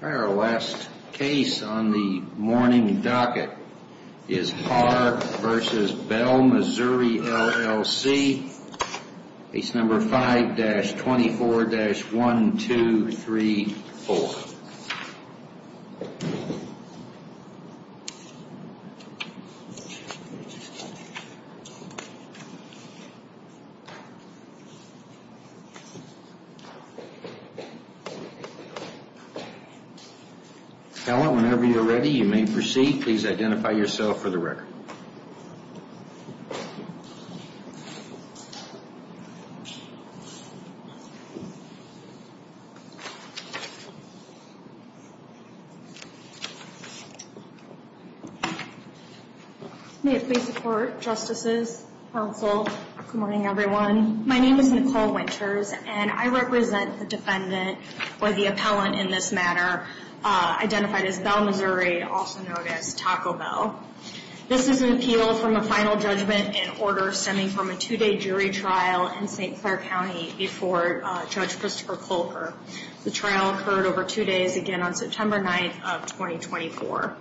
Our last case on the morning docket is Haar v. Bell Missouri, LLC, case number 5-24-1234. Appellant, whenever you're ready, you may proceed. Please identify yourself for the record. May it please the Court, Justices, Counsel, good morning everyone. My name is Nicole Winters, and I represent the defendant, or the appellant in this matter, identified as Bell Missouri, also known as Taco Bell. This is an appeal from a final judgment in order stemming from a two-day jury trial in St. Clair County before Judge Christopher Kolker. The trial occurred over two days, again on September 9th of 2024.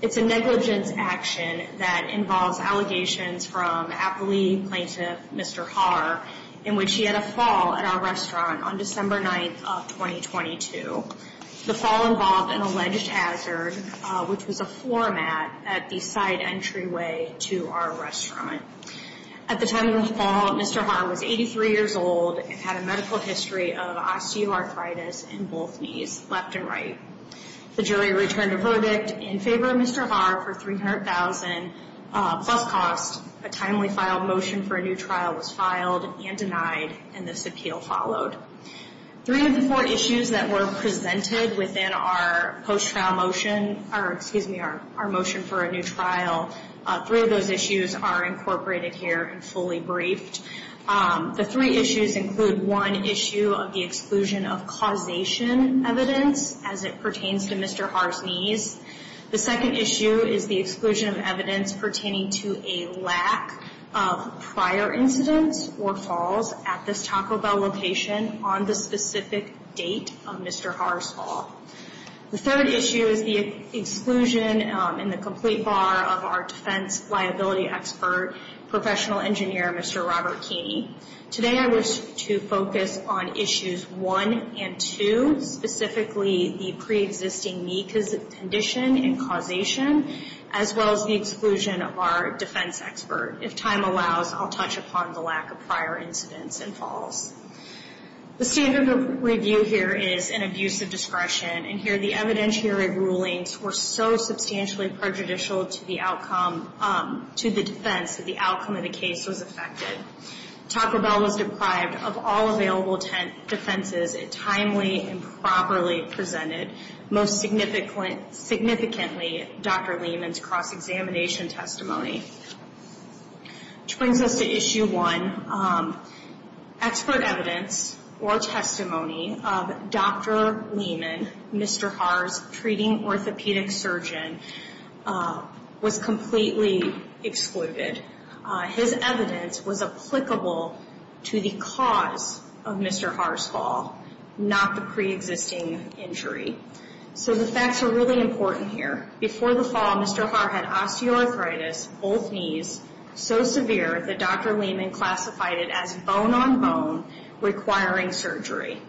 It's a negligence action that involves allegations from appellee plaintiff, Mr. Haar, in which he had a fall at our restaurant on December 9th of 2022. The fall involved an alleged hazard, which was a floor mat at the side entryway to our restaurant. At the time of the fall, Mr. Haar was 83 years old and had a medical history of osteoarthritis in both knees, left and right. The jury returned a verdict in favor of Mr. Haar for $300,000 plus cost. A timely filed motion for a new trial was filed and denied, and this appeal followed. Three of the four issues that were presented within our post-trial motion, or excuse me, our motion for a new trial, three of those issues are incorporated here and fully briefed. The three issues include one issue of the exclusion of causation evidence as it pertains to Mr. Haar's knees. The second issue is the exclusion of evidence pertaining to a lack of prior incidents or falls at this Taco Bell location on the specific date of Mr. Haar's fall. The third issue is the exclusion in the complete bar of our defense liability expert, professional engineer, Mr. Robert Keeney. Today I wish to focus on issues one and two, specifically the pre-existing knee condition and causation, as well as the exclusion of our defense expert. If time allows, I'll touch upon the lack of prior incidents and falls. The standard of review here is an abuse of discretion, and here the evidentiary rulings were so substantially prejudicial to the outcome, to the defense that the outcome of the case was affected. Taco Bell was deprived of all available defenses. It timely and properly presented, most significantly, Dr. Lehman's cross-examination testimony. Which brings us to issue one, expert evidence or testimony of Dr. Lehman, Mr. Haar's treating orthopedic surgeon, was completely excluded. His evidence was applicable to the cause of Mr. Haar's fall, not the pre-existing injury. So the facts are really important here. Before the fall, Mr. Haar had osteoarthritis, both knees, so severe that Dr. Lehman classified it as bone-on-bone, requiring surgery.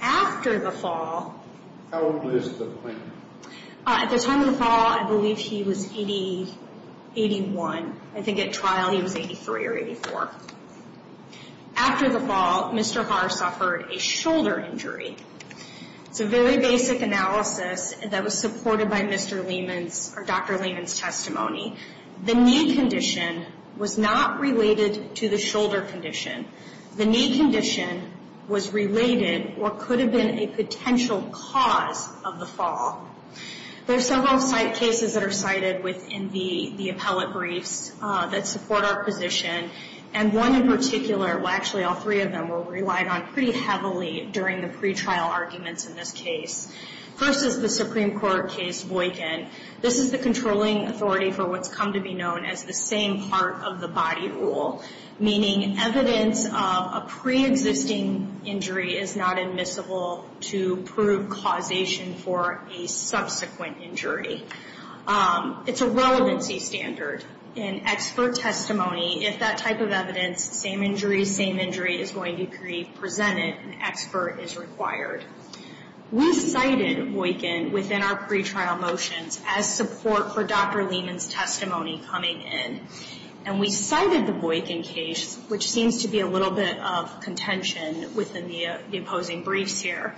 After the fall... How old is the plaintiff? At the time of the fall, I believe he was 81. I think at trial he was 83 or 84. After the fall, Mr. Haar suffered a shoulder injury. It's a very basic analysis that was supported by Dr. Lehman's testimony. The knee condition was not related to the shoulder condition. The knee condition was related or could have been a potential cause of the fall. There are several cases that are cited within the appellate briefs that support our position. And one in particular, well actually all three of them, were relied on pretty heavily during the pretrial arguments in this case. First is the Supreme Court case Voykin. This is the controlling authority for what's come to be known as the same part of the body rule, meaning evidence of a pre-existing injury is not admissible to prove causation for a subsequent injury. It's a relevancy standard. In expert testimony, if that type of evidence, same injury, same injury, is going to be presented, an expert is required. We cited Voykin within our pretrial motions as support for Dr. Lehman's testimony coming in. And we cited the Voykin case, which seems to be a little bit of contention within the opposing briefs here,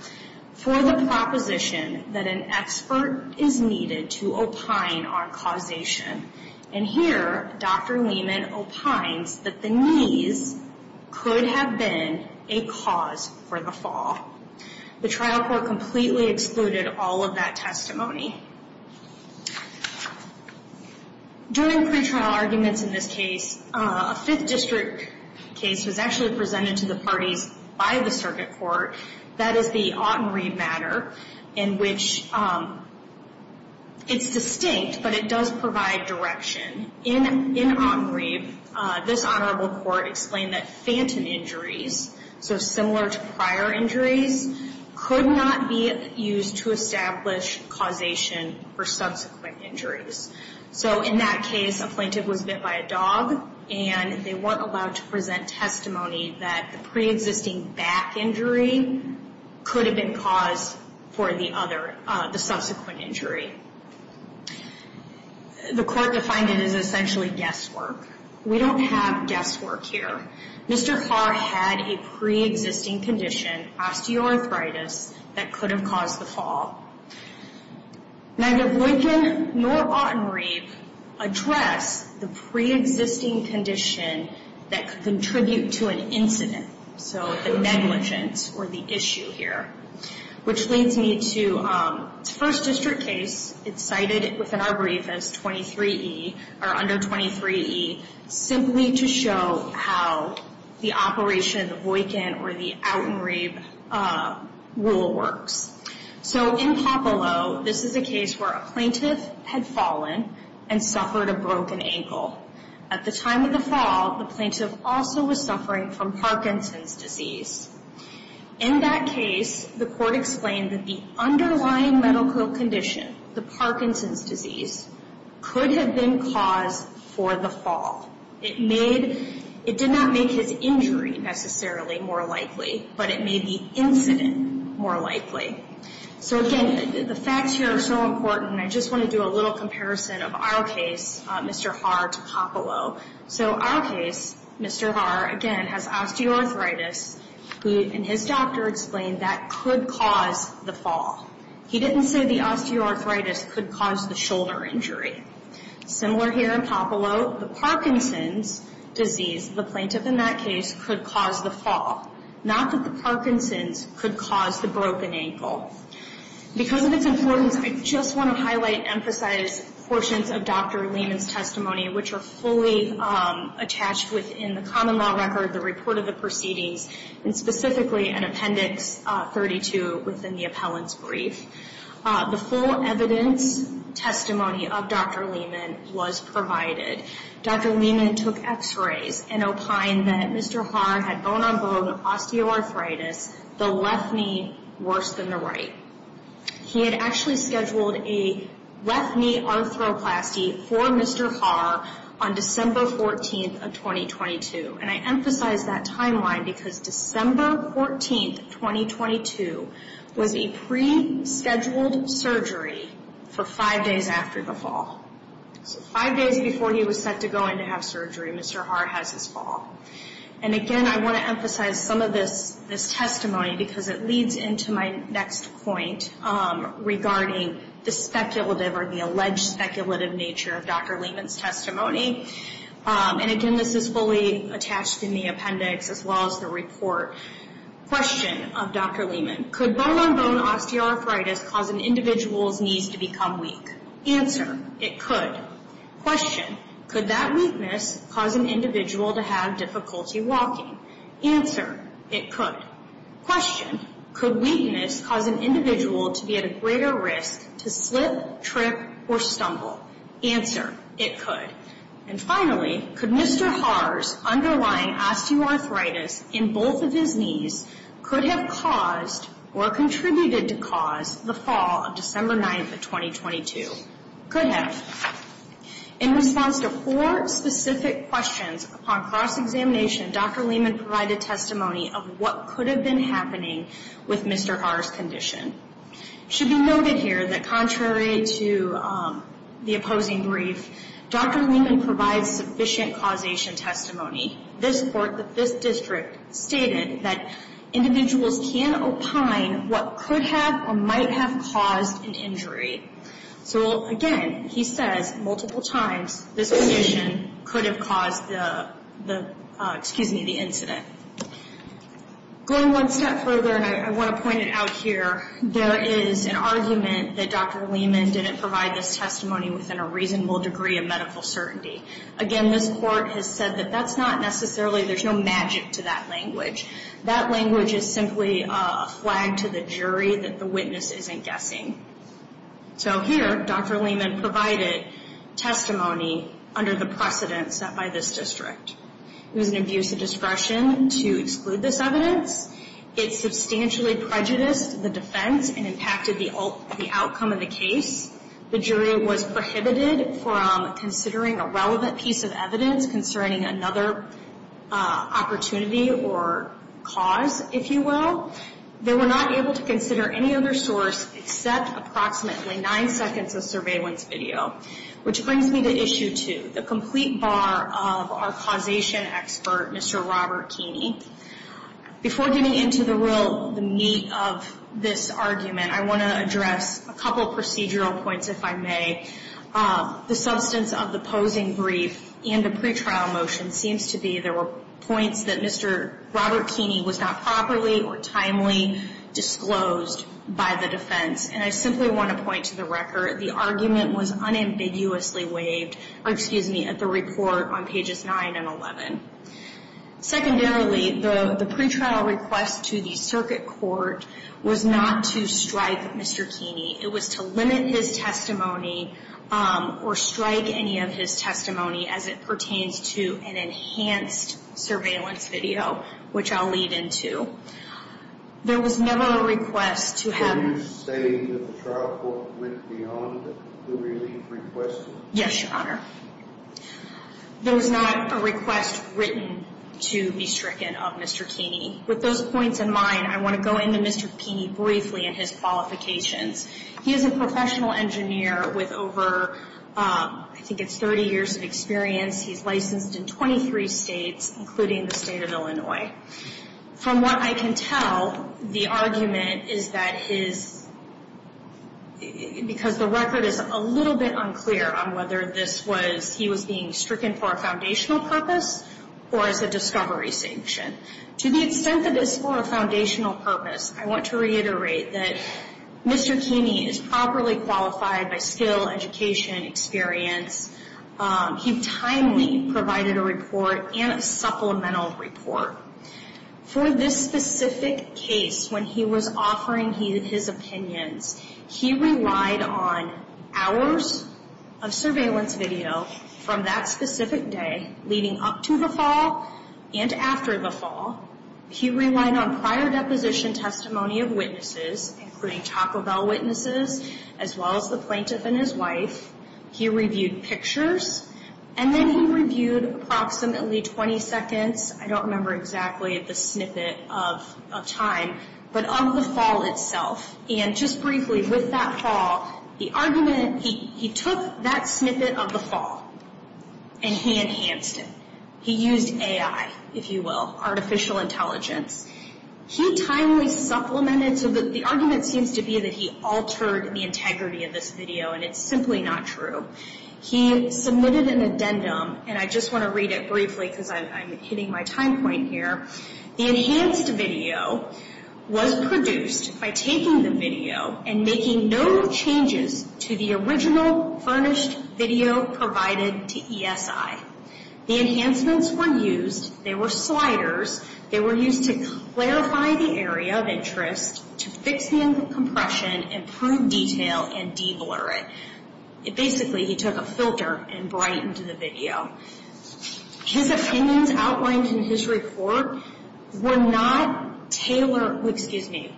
for the proposition that an expert is needed to opine on causation. And here, Dr. Lehman opines that the knees could have been a cause for the fall. The trial court completely excluded all of that testimony. During pretrial arguments in this case, a Fifth District case was actually presented to the parties by the circuit court. That is the Autenried matter, in which it's distinct, but it does provide direction. In Autenried, this honorable court explained that phantom injuries, so similar to prior injuries, could not be used to establish causation for subsequent injuries. So in that case, a plaintiff was bit by a dog, and they weren't allowed to present testimony that the preexisting back injury could have been caused for the subsequent injury. The court defined it as essentially guesswork. We don't have guesswork here. Mr. Farr had a preexisting condition, osteoarthritis, that could have caused the fall. Neither Voykin nor Autenried address the preexisting condition that could contribute to an incident, so the negligence or the issue here, which leads me to the First District case. It's cited within our brief as 23E or under 23E, simply to show how the operation of the Voykin or the Autenried rule works. So in Popolo, this is a case where a plaintiff had fallen and suffered a broken ankle. At the time of the fall, the plaintiff also was suffering from Parkinson's disease. In that case, the court explained that the underlying medical condition, the Parkinson's disease, could have been caused for the fall. It did not make his injury necessarily more likely, but it made the incident more likely. So again, the facts here are so important. I just want to do a little comparison of our case, Mr. Farr to Popolo. So our case, Mr. Farr, again, has osteoarthritis, and his doctor explained that could cause the fall. He didn't say the osteoarthritis could cause the shoulder injury. Similar here in Popolo, the Parkinson's disease, the plaintiff in that case, could cause the fall, not that the Parkinson's could cause the broken ankle. Because of its importance, I just want to highlight and emphasize portions of Dr. Lehman's testimony, which are fully attached within the common law record, the report of the proceedings, and specifically in Appendix 32 within the appellant's brief. The full evidence testimony of Dr. Lehman was provided. Dr. Lehman took x-rays and opined that Mr. Farr had bone-on-bone osteoarthritis, the left knee worse than the right. He had actually scheduled a left knee arthroplasty for Mr. Farr on December 14th of 2022. And I emphasize that timeline because December 14th, 2022, was a pre-scheduled surgery for five days after the fall. So five days before he was set to go in to have surgery, Mr. Farr has his fall. And again, I want to emphasize some of this testimony because it leads into my next point regarding the speculative or the alleged speculative nature of Dr. Lehman's testimony. And again, this is fully attached in the appendix as well as the report. Question of Dr. Lehman. Could bone-on-bone osteoarthritis cause an individual's knees to become weak? Answer, it could. Question, could that weakness cause an individual to have difficulty walking? Answer, it could. Question, could weakness cause an individual to be at a greater risk to slip, trip, or stumble? Answer, it could. And finally, could Mr. Farr's underlying osteoarthritis in both of his knees could have caused or contributed to cause the fall of December 9th of 2022? Could have. In response to four specific questions upon cross-examination, Dr. Lehman provided testimony of what could have been happening with Mr. Farr's condition. It should be noted here that contrary to the opposing brief, Dr. Lehman provides sufficient causation testimony. This court, this district, stated that individuals can opine what could have or might have caused an injury. So again, he says multiple times this condition could have caused the incident. Going one step further, and I want to point it out here, there is an argument that Dr. Lehman didn't provide this testimony within a reasonable degree of medical certainty. Again, this court has said that that's not necessarily, there's no magic to that language. That language is simply a flag to the jury that the witness isn't guessing. So here, Dr. Lehman provided testimony under the precedence set by this district. It was an abuse of discretion to exclude this evidence. It substantially prejudiced the defense and impacted the outcome of the case. The jury was prohibited from considering a relevant piece of evidence concerning another opportunity or cause, if you will. They were not able to consider any other source except approximately nine seconds of surveillance video, which brings me to Issue 2, the complete bar of our causation expert, Mr. Robert Keeney. Before getting into the meat of this argument, I want to address a couple of procedural points, if I may. The substance of the posing brief and the pretrial motion seems to be there were points that Mr. Robert Keeney was not properly or timely disclosed by the defense. And I simply want to point to the record. The argument was unambiguously waived at the report on pages 9 and 11. Secondarily, the pretrial request to the circuit court was not to strike Mr. Keeney. It was to limit his testimony or strike any of his testimony as it pertains to an enhanced surveillance video, which I'll lead into. There was never a request to have- Are you saying that the trial court went beyond the release request? Yes, Your Honor. There was not a request written to be stricken of Mr. Keeney. With those points in mind, I want to go into Mr. Keeney briefly and his qualifications. He is a professional engineer with over, I think it's 30 years of experience. He's licensed in 23 states, including the state of Illinois. From what I can tell, the argument is that his- because the record is a little bit unclear on whether this was- he was being stricken for a foundational purpose or as a discovery sanction. To the extent that it's for a foundational purpose, I want to reiterate that Mr. Keeney is properly qualified by skill, education, experience. He timely provided a report and a supplemental report. For this specific case, when he was offering his opinions, he relied on hours of surveillance video from that specific day, leading up to the fall and after the fall. He relied on prior deposition testimony of witnesses, including Taco Bell witnesses, as well as the plaintiff and his wife. He reviewed pictures and then he reviewed approximately 20 seconds. I don't remember exactly the snippet of time, but of the fall itself. Just briefly, with that fall, the argument- he took that snippet of the fall and he enhanced it. He used AI, if you will, artificial intelligence. He timely supplemented, so the argument seems to be that he altered the integrity of this video and it's simply not true. He submitted an addendum, and I just want to read it briefly because I'm hitting my time point here. The enhanced video was produced by taking the video and making no changes to the original furnished video provided to ESI. The enhancements were used. They were sliders. They were used to clarify the area of interest, to fix the compression, improve detail, and de-blur it. Basically, he took a filter and brightened the video. His opinions outlined in his report were not solely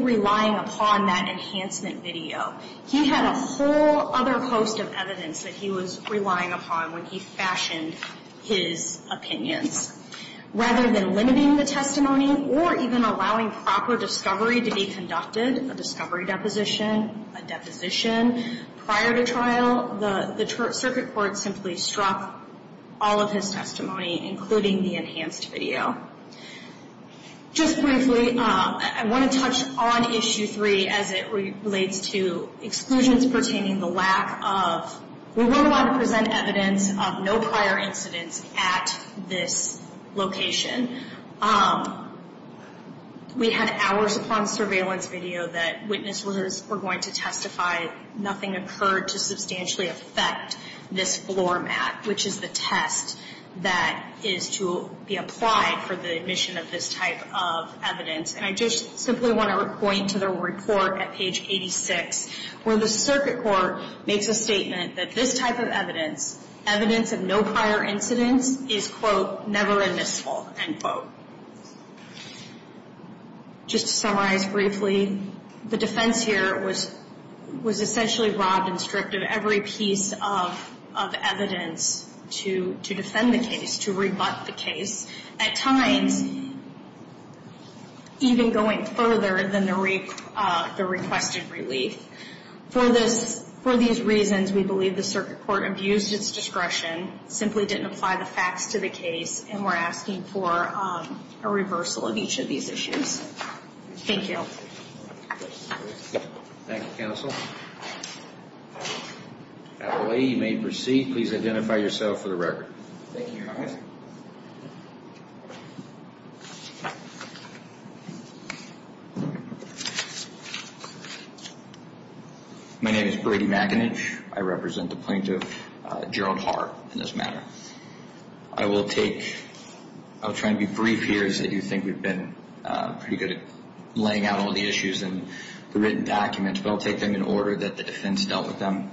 relying upon that enhancement video. He had a whole other host of evidence that he was relying upon when he fashioned his opinions. Rather than limiting the testimony or even allowing proper discovery to be conducted, a discovery deposition, a deposition prior to trial, the circuit court simply struck all of his testimony, including the enhanced video. Just briefly, I want to touch on Issue 3 as it relates to exclusions pertaining to the lack of- We had hours upon surveillance video that witnesses were going to testify. Nothing occurred to substantially affect this floor mat, which is the test that is to be applied for the admission of this type of evidence. And I just simply want to point to the report at page 86, where the circuit court makes a statement that this type of evidence, evidence of no prior incidents, is, quote, never admissible, end quote. Just to summarize briefly, the defense here was essentially robbed and stripped of every piece of evidence to defend the case, to rebut the case, at times even going further than the requested relief. For these reasons, we believe the circuit court abused its discretion, simply didn't apply the facts to the case, and we're asking for a reversal of each of these issues. Thank you. Thank you, counsel. Adelaide, you may proceed. Please identify yourself for the record. Thank you, Your Honor. My name is Brady McAninch. I represent the plaintiff, Gerald Hart, in this matter. I will take- I'll try to be brief here, as I do think we've been pretty good at laying out all the issues and the written documents, but I'll take them in order that the defense dealt with them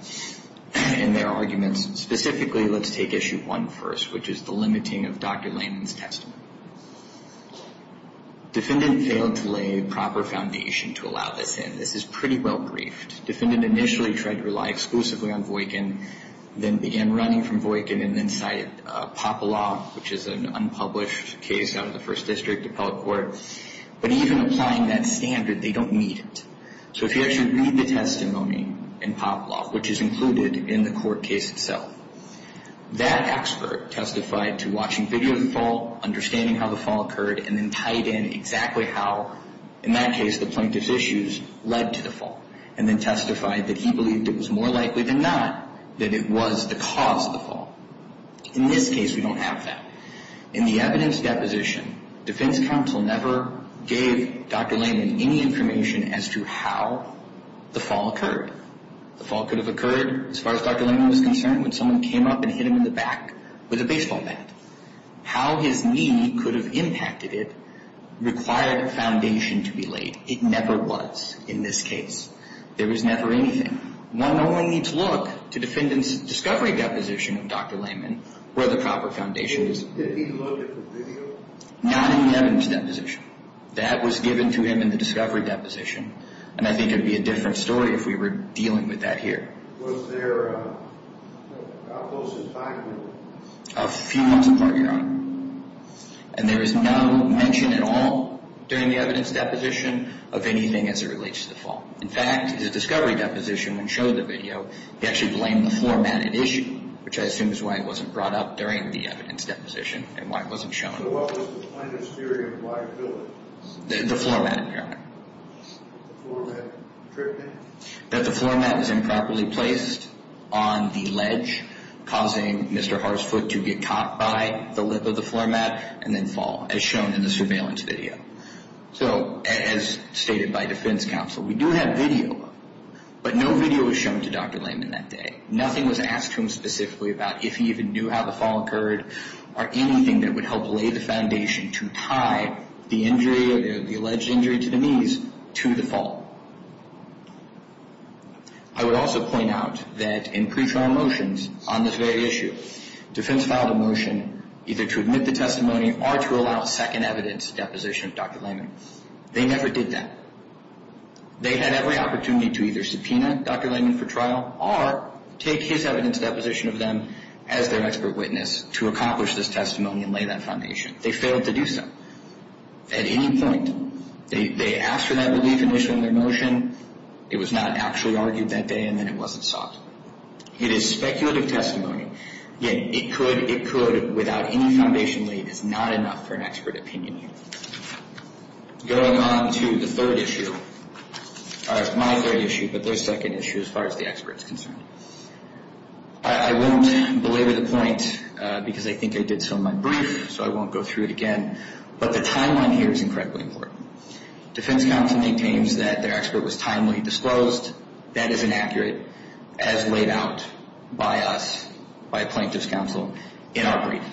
in their arguments. Specifically, let's take Issue 1 first, which is the limiting of Dr. Lanyon's testimony. Defendant failed to lay proper foundation to allow this in. This is pretty well briefed. Defendant initially tried to rely exclusively on Voightkin, then began running from Voightkin, and then cited Papalaw, which is an unpublished case out of the First District Appellate Court. But even applying that standard, they don't need it. So if you actually read the testimony in Papalaw, which is included in the court case itself, that expert testified to watching video of the fall, understanding how the fall occurred, and then tied in exactly how, in that case, the plaintiff's issues led to the fall, and then testified that he believed it was more likely than not that it was the cause of the fall. In this case, we don't have that. In the evidence deposition, defense counsel never gave Dr. Lanyon any information as to how the fall occurred. The fall could have occurred, as far as Dr. Lanyon was concerned, when someone came up and hit him in the back with a baseball bat. How his knee could have impacted it required a foundation to be laid. It never was in this case. There was never anything. One only needs to look to defendant's discovery deposition of Dr. Lanyon where the proper foundation is. Did he look at the video? Not in the evidence deposition. That was given to him in the discovery deposition, and I think it would be a different story if we were dealing with that here. Was there a close environment? A few months apart, Your Honor. And there is no mention at all during the evidence deposition of anything as it relates to the fall. In fact, the discovery deposition, when shown in the video, he actually blamed the floor mat in issue, which I assume is why it wasn't brought up during the evidence deposition and why it wasn't shown. So what was the plaintiff's theory of liability? The floor mat, Your Honor. The floor mat tripped him? That the floor mat was improperly placed on the ledge, causing Mr. Harsfoot to get caught by the lip of the floor mat and then fall, as shown in the surveillance video. So, as stated by defense counsel, we do have video, but no video was shown to Dr. Lehman that day. Nothing was asked to him specifically about if he even knew how the fall occurred or anything that would help lay the foundation to tie the injury, the alleged injury to the knees, to the fall. I would also point out that in pre-trial motions on this very issue, defense filed a motion either to admit the testimony or to allow second evidence deposition of Dr. Lehman. They never did that. They had every opportunity to either subpoena Dr. Lehman for trial or take his evidence deposition of them as their expert witness to accomplish this testimony and lay that foundation. They failed to do so. At any point, they asked for that belief initially in their motion. It was not actually argued that day, and then it wasn't sought. It is speculative testimony. Yet, it could, it could, without any foundation laid, is not enough for an expert opinion here. Going on to the third issue, or my third issue, but their second issue as far as the expert is concerned. I won't belabor the point because I think I did so in my brief, so I won't go through it again, but the timeline here is incredibly important. Defense counsel maintains that their expert was timely disclosed. That is inaccurate, as laid out by us, by a plaintiff's counsel in our brief.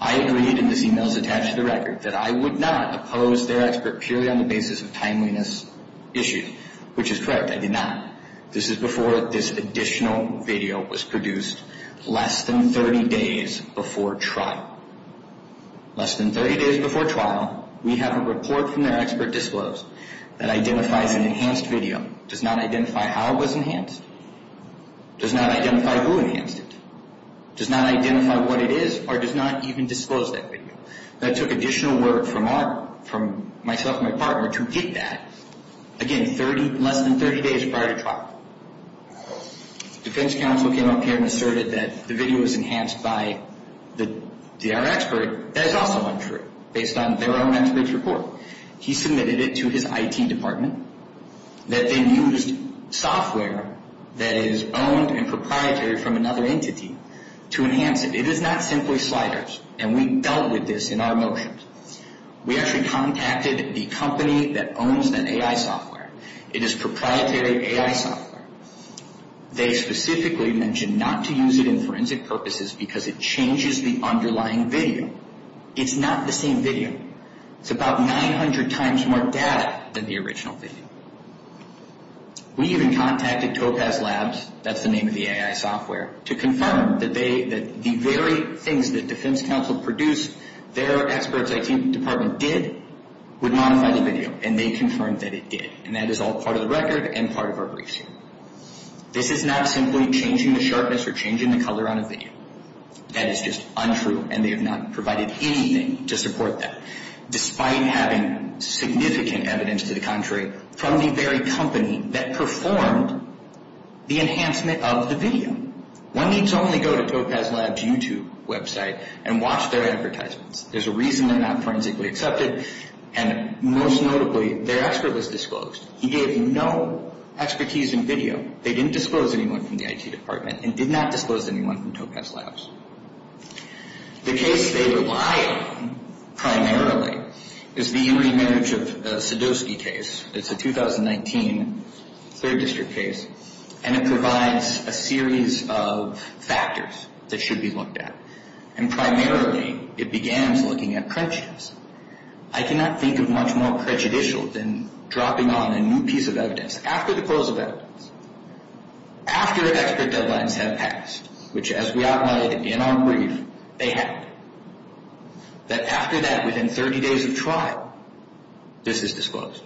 I agreed, and this email is attached to the record, that I would not oppose their expert purely on the basis of timeliness issued, which is correct, I did not. This is before this additional video was produced less than 30 days before trial. Less than 30 days before trial, we have a report from their expert disclosed that identifies an enhanced video, does not identify how it was enhanced, does not identify who enhanced it, does not identify what it is, or does not even disclose that video. That took additional work from our, from myself and my partner to get that. Again, 30, less than 30 days prior to trial. Defense counsel came up here and asserted that the video was enhanced by our expert. That is also untrue, based on their own expert's report. He submitted it to his IT department that then used software that is owned and proprietary from another entity to enhance it. It is not simply sliders, and we dealt with this in our motions. We actually contacted the company that owns that AI software. It is proprietary AI software. They specifically mentioned not to use it in forensic purposes because it changes the underlying video. It's not the same video. It's about 900 times more data than the original video. We even contacted Topaz Labs, that's the name of the AI software, to confirm that the very things that defense counsel produced, their expert's IT department did, would modify the video. And they confirmed that it did. And that is all part of the record and part of our briefing. This is not simply changing the sharpness or changing the color on a video. That is just untrue, and they have not provided anything to support that, despite having significant evidence to the contrary from the very company that performed the enhancement of the video. One needs only go to Topaz Labs' YouTube website and watch their advertisements. There's a reason they're not forensically accepted, and most notably, their expert was disclosed. He gave no expertise in video. They didn't disclose anyone from the IT department and did not disclose anyone from Topaz Labs. The case they rely on primarily is the Erie Marriage of Sadowski case. It's a 2019 third district case, and it provides a series of factors that should be looked at. And primarily, it begins looking at prejudice. I cannot think of much more prejudicial than dropping on a new piece of evidence after the close of evidence, after expert deadlines have passed, which, as we outlined in our brief, they have, that after that, within 30 days of trial, this is disclosed.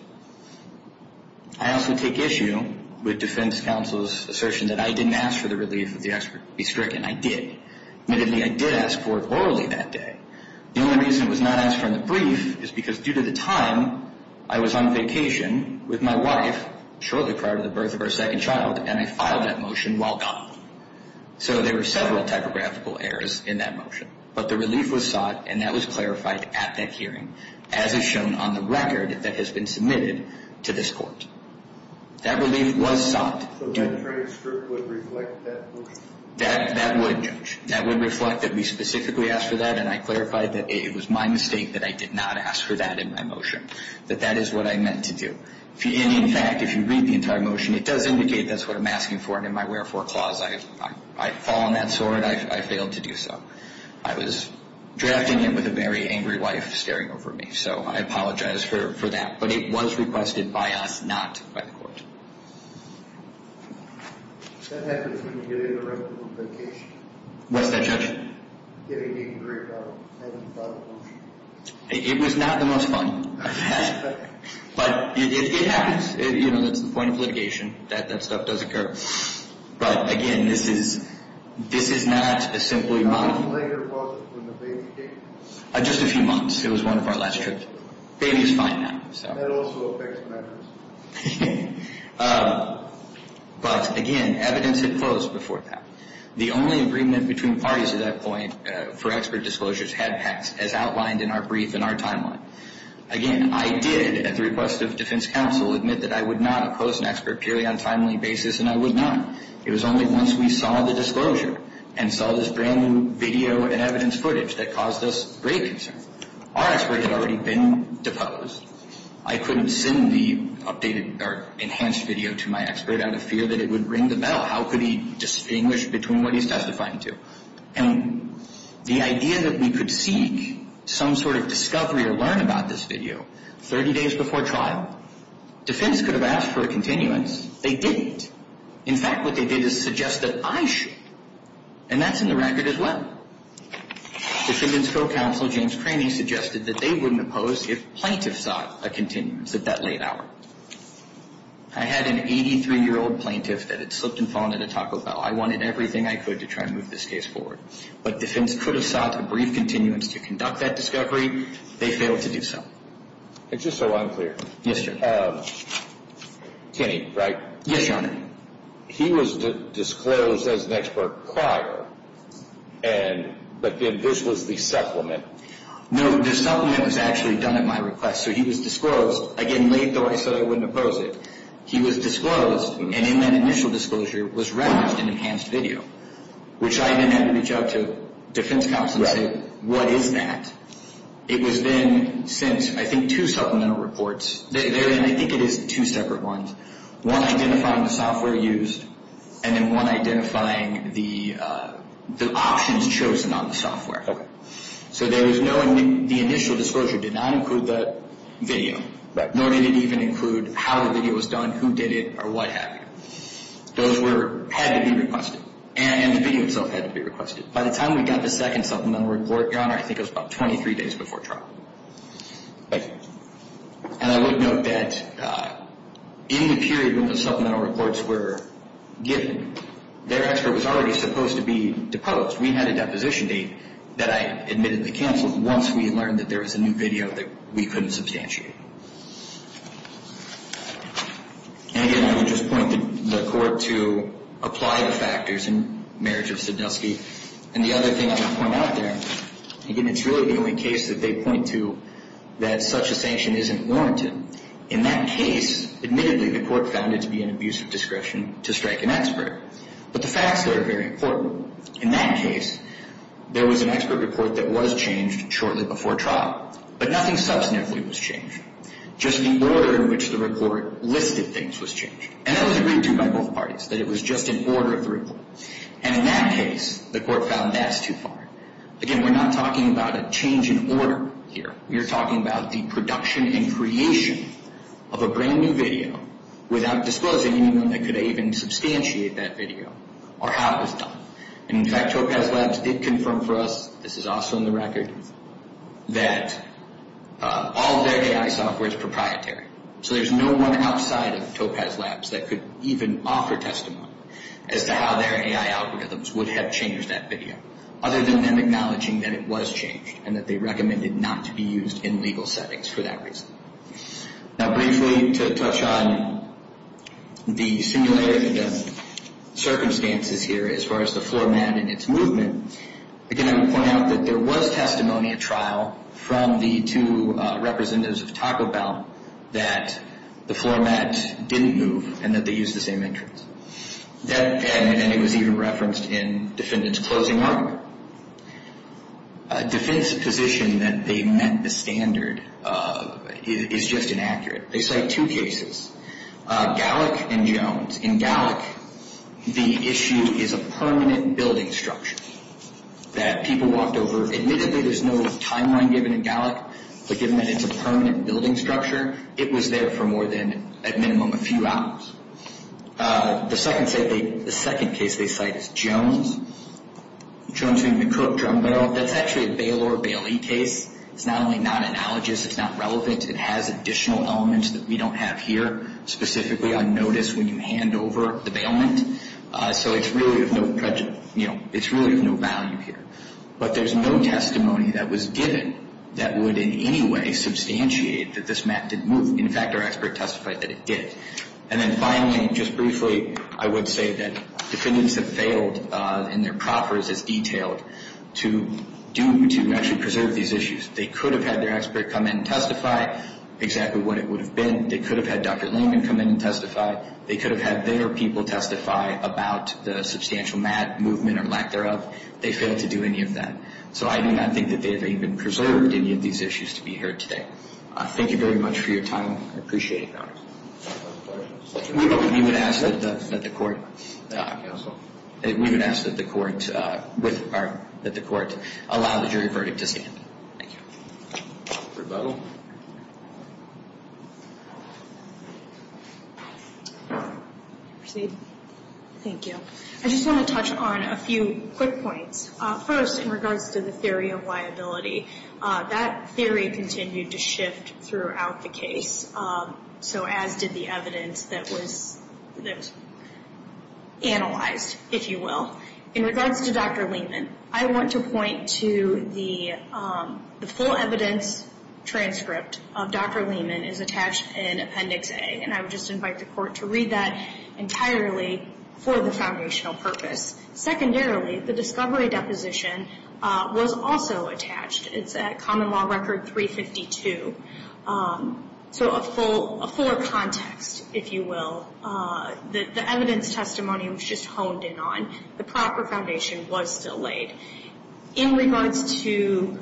I also take issue with defense counsel's assertion that I didn't ask for the relief of the expert to be stricken. I did. Admittedly, I did ask for it orally that day. The only reason it was not asked for in the brief is because, due to the time, I was on vacation with my wife, shortly prior to the birth of our second child, and I filed that motion while gone. So there were several typographical errors in that motion. But the relief was sought, and that was clarified at that hearing, as is shown on the record that has been submitted to this court. That relief was sought. So that transcript would reflect that motion? That would. That would reflect that we specifically asked for that, and I clarified that it was my mistake that I did not ask for that in my motion, that that is what I meant to do. In fact, if you read the entire motion, it does indicate that's what I'm asking for, and in my wherefore clause, I fall on that sword. I failed to do so. I was drafting it with a very angry wife staring over me, so I apologize for that. But it was requested by us, not by the court. That happens when you get in the room for a vacation. What's that, Judge? Getting a drink out and filing a motion. It was not the most fun I've had. But it happens. You know, that's the point of litigation. That stuff does occur. But, again, this is not a simple environment. How much later was it when the baby came? Just a few months. It was one of our last trips. Baby is fine now. That also affects matters. But, again, evidence had closed before that. The only agreement between parties at that point for expert disclosures had passed, as outlined in our brief and our timeline. Again, I did, at the request of defense counsel, admit that I would not oppose an expert purely on a timely basis, and I would not. It was only once we saw the disclosure and saw this brand-new video and evidence footage that caused us great concern. Our expert had already been deposed. I couldn't send the updated or enhanced video to my expert out of fear that it would ring the bell. How could he distinguish between what he's testifying to? And the idea that we could seek some sort of discovery or learn about this video 30 days before trial, defense could have asked for a continuance. They didn't. In fact, what they did is suggest that I should. And that's in the record as well. Defendant's co-counsel, James Craney, suggested that they wouldn't oppose if plaintiffs sought a continuance at that late hour. I had an 83-year-old plaintiff that had slipped and fallen at a Taco Bell. I wanted everything I could to try and move this case forward. But defense could have sought a brief continuance to conduct that discovery. They failed to do so. Just so I'm clear. Yes, Your Honor. Kenny, right? Yes, Your Honor. He was disclosed as an expert prior, but then this was the supplement. No, the supplement was actually done at my request. So he was disclosed. Again, late though, I said I wouldn't oppose it. He was disclosed, and in that initial disclosure was referenced in enhanced video, which I didn't have to reach out to defense counsel and say, what is that? It was then sent, I think, two supplemental reports. I think it is two separate ones. One identifying the software used, and then one identifying the options chosen on the software. So the initial disclosure did not include the video. Right. Nor did it even include how the video was done, who did it, or what happened. Those had to be requested, and the video itself had to be requested. By the time we got the second supplemental report, Your Honor, I think it was about 23 days before trial. Okay. And I would note that in the period when the supplemental reports were given, their expert was already supposed to be deposed. We had a deposition date that I admitted to counsel once we learned that there was a new video that we couldn't substantiate. And again, I would just point the Court to apply the factors in marriage of Saddowski. And the other thing I want to point out there, again, it's really the only case that they point to that such a sanction isn't warranted. In that case, admittedly, the Court found it to be an abuse of discretion to strike an expert. But the facts there are very important. In that case, there was an expert report that was changed shortly before trial. But nothing substantively was changed. Just the order in which the report listed things was changed. And that was agreed to by both parties, that it was just an order of the report. And in that case, the Court found that's too far. Again, we're not talking about a change in order here. We're talking about the production and creation of a brand new video without disclosing anyone that could even substantiate that video or how it was done. And in fact, Topaz Labs did confirm for us, this is also in the record, that all of their AI software is proprietary. So there's no one outside of Topaz Labs that could even offer testimony as to how their AI algorithms would have changed that video. Other than them acknowledging that it was changed and that they recommended not to be used in legal settings for that reason. Now, briefly, to touch on the similarity of circumstances here as far as the floor mat and its movement, again, I would point out that there was testimony at trial from the two representatives of Taco Bell that the floor mat didn't move and that they used the same entrance. And it was even referenced in the defendant's closing argument. The defendant's position that they met the standard is just inaccurate. They cite two cases, Gallick and Jones. In Gallick, the issue is a permanent building structure that people walked over. Admittedly, there's no timeline given in Gallick, but given that it's a permanent building structure, it was there for more than, at minimum, a few hours. The second case they cite is Jones, Jones v. McCook, Drumbell. That's actually a bailor-bailee case. It's not only non-analogous, it's not relevant. It has additional elements that we don't have here, specifically on notice when you hand over the bailment. So it's really of no value here. But there's no testimony that was given that would in any way substantiate that this mat didn't move. In fact, our expert testified that it did. And then finally, just briefly, I would say that defendants have failed in their proffers as detailed to do to actually preserve these issues. They could have had their expert come in and testify exactly what it would have been. They could have had Dr. Lincoln come in and testify. They could have had their people testify about the substantial mat movement or lack thereof. They failed to do any of that. So I do not think that they have even preserved any of these issues to be heard today. Thank you very much for your time. I appreciate it, Your Honor. We would ask that the court allow the jury verdict to stand. Thank you. Rebuttal. Proceed. Thank you. I just want to touch on a few quick points. First, in regards to the theory of liability, that theory continued to shift throughout the case, so as did the evidence that was analyzed, if you will. In regards to Dr. Lehman, I want to point to the full evidence transcript of Dr. Lehman is attached in Appendix A, and I would just invite the court to read that entirely for the foundational purpose. Secondarily, the discovery deposition was also attached. It's at Common Law Record 352. So a fuller context, if you will. The evidence testimony was just honed in on. The proper foundation was still laid. In regards to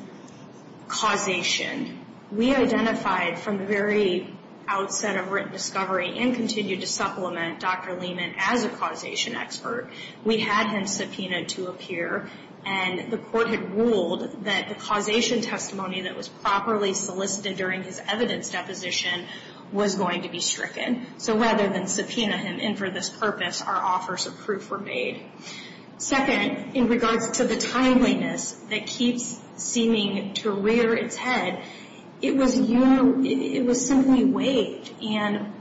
causation, we identified from the very outset of written discovery and continued to supplement Dr. Lehman as a causation expert. We had him subpoenaed to appear, and the court had ruled that the causation testimony that was properly solicited during his evidence deposition was going to be stricken. So rather than subpoena him in for this purpose, our offers of proof were made. Second, in regards to the timeliness that keeps seeming to rear its head, it was simply waived, and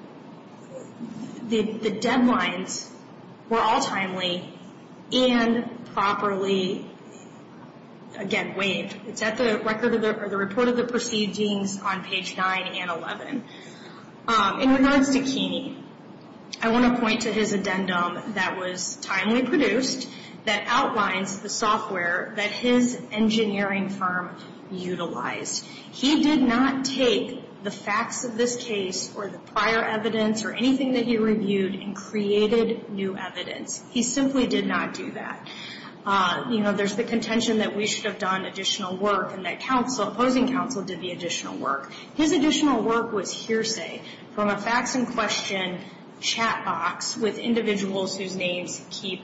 the deadlines were all timely and properly, again, waived. It's at the report of the proceedings on page 9 and 11. In regards to Keeney, I want to point to his addendum that was timely produced that outlines the software that his engineering firm utilized. He did not take the facts of this case or the prior evidence or anything that he reviewed and created new evidence. He simply did not do that. You know, there's the contention that we should have done additional work and that opposing counsel did the additional work. His additional work was hearsay from a facts-in-question chat box with individuals whose names keep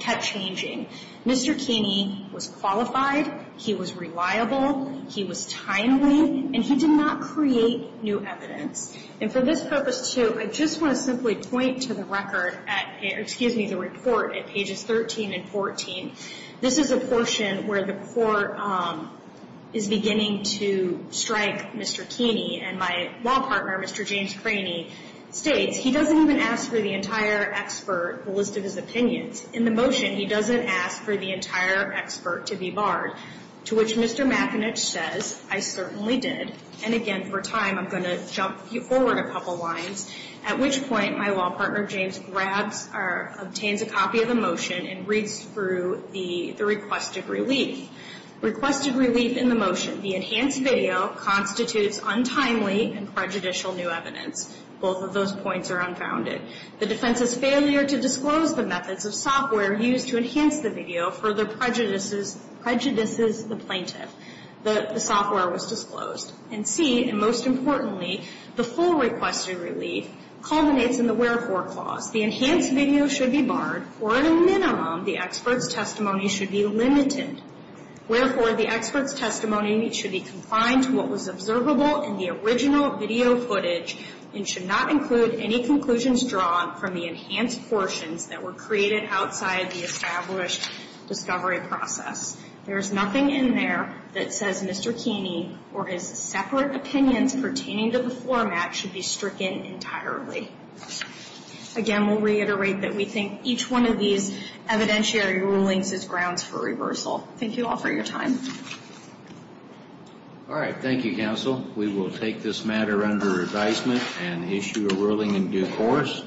kept changing. Mr. Keeney was qualified, he was reliable, he was timely, and he did not create new evidence. And for this purpose, too, I just want to simply point to the record at, excuse me, the report at pages 13 and 14. This is a portion where the court is beginning to strike Mr. Keeney, and my law partner, Mr. James Craney, states, he doesn't even ask for the entire expert, the list of his opinions. In the motion, he doesn't ask for the entire expert to be barred, to which Mr. McAnish says, I certainly did. And again, for time, I'm going to jump forward a couple lines, at which point my law partner, James, grabs or obtains a copy of the motion and reads through the requested relief. Requested relief in the motion, the enhanced video constitutes untimely and prejudicial new evidence. Both of those points are unfounded. The defense's failure to disclose the methods of software used to enhance the video further prejudices the plaintiff. The software was disclosed. And C, and most importantly, the full requested relief culminates in the wherefore clause. The enhanced video should be barred, or at a minimum, the expert's testimony should be limited. Wherefore, the expert's testimony should be confined to what was observable in the original video footage and should not include any conclusions drawn from the enhanced portions that were created outside the established discovery process. There is nothing in there that says Mr. Keeney or his separate opinions pertaining to the format should be stricken entirely. Again, we'll reiterate that we think each one of these evidentiary rulings is grounds for reversal. Thank you all for your time. All right, thank you, counsel. We will take this matter under advisement and issue a ruling in due course.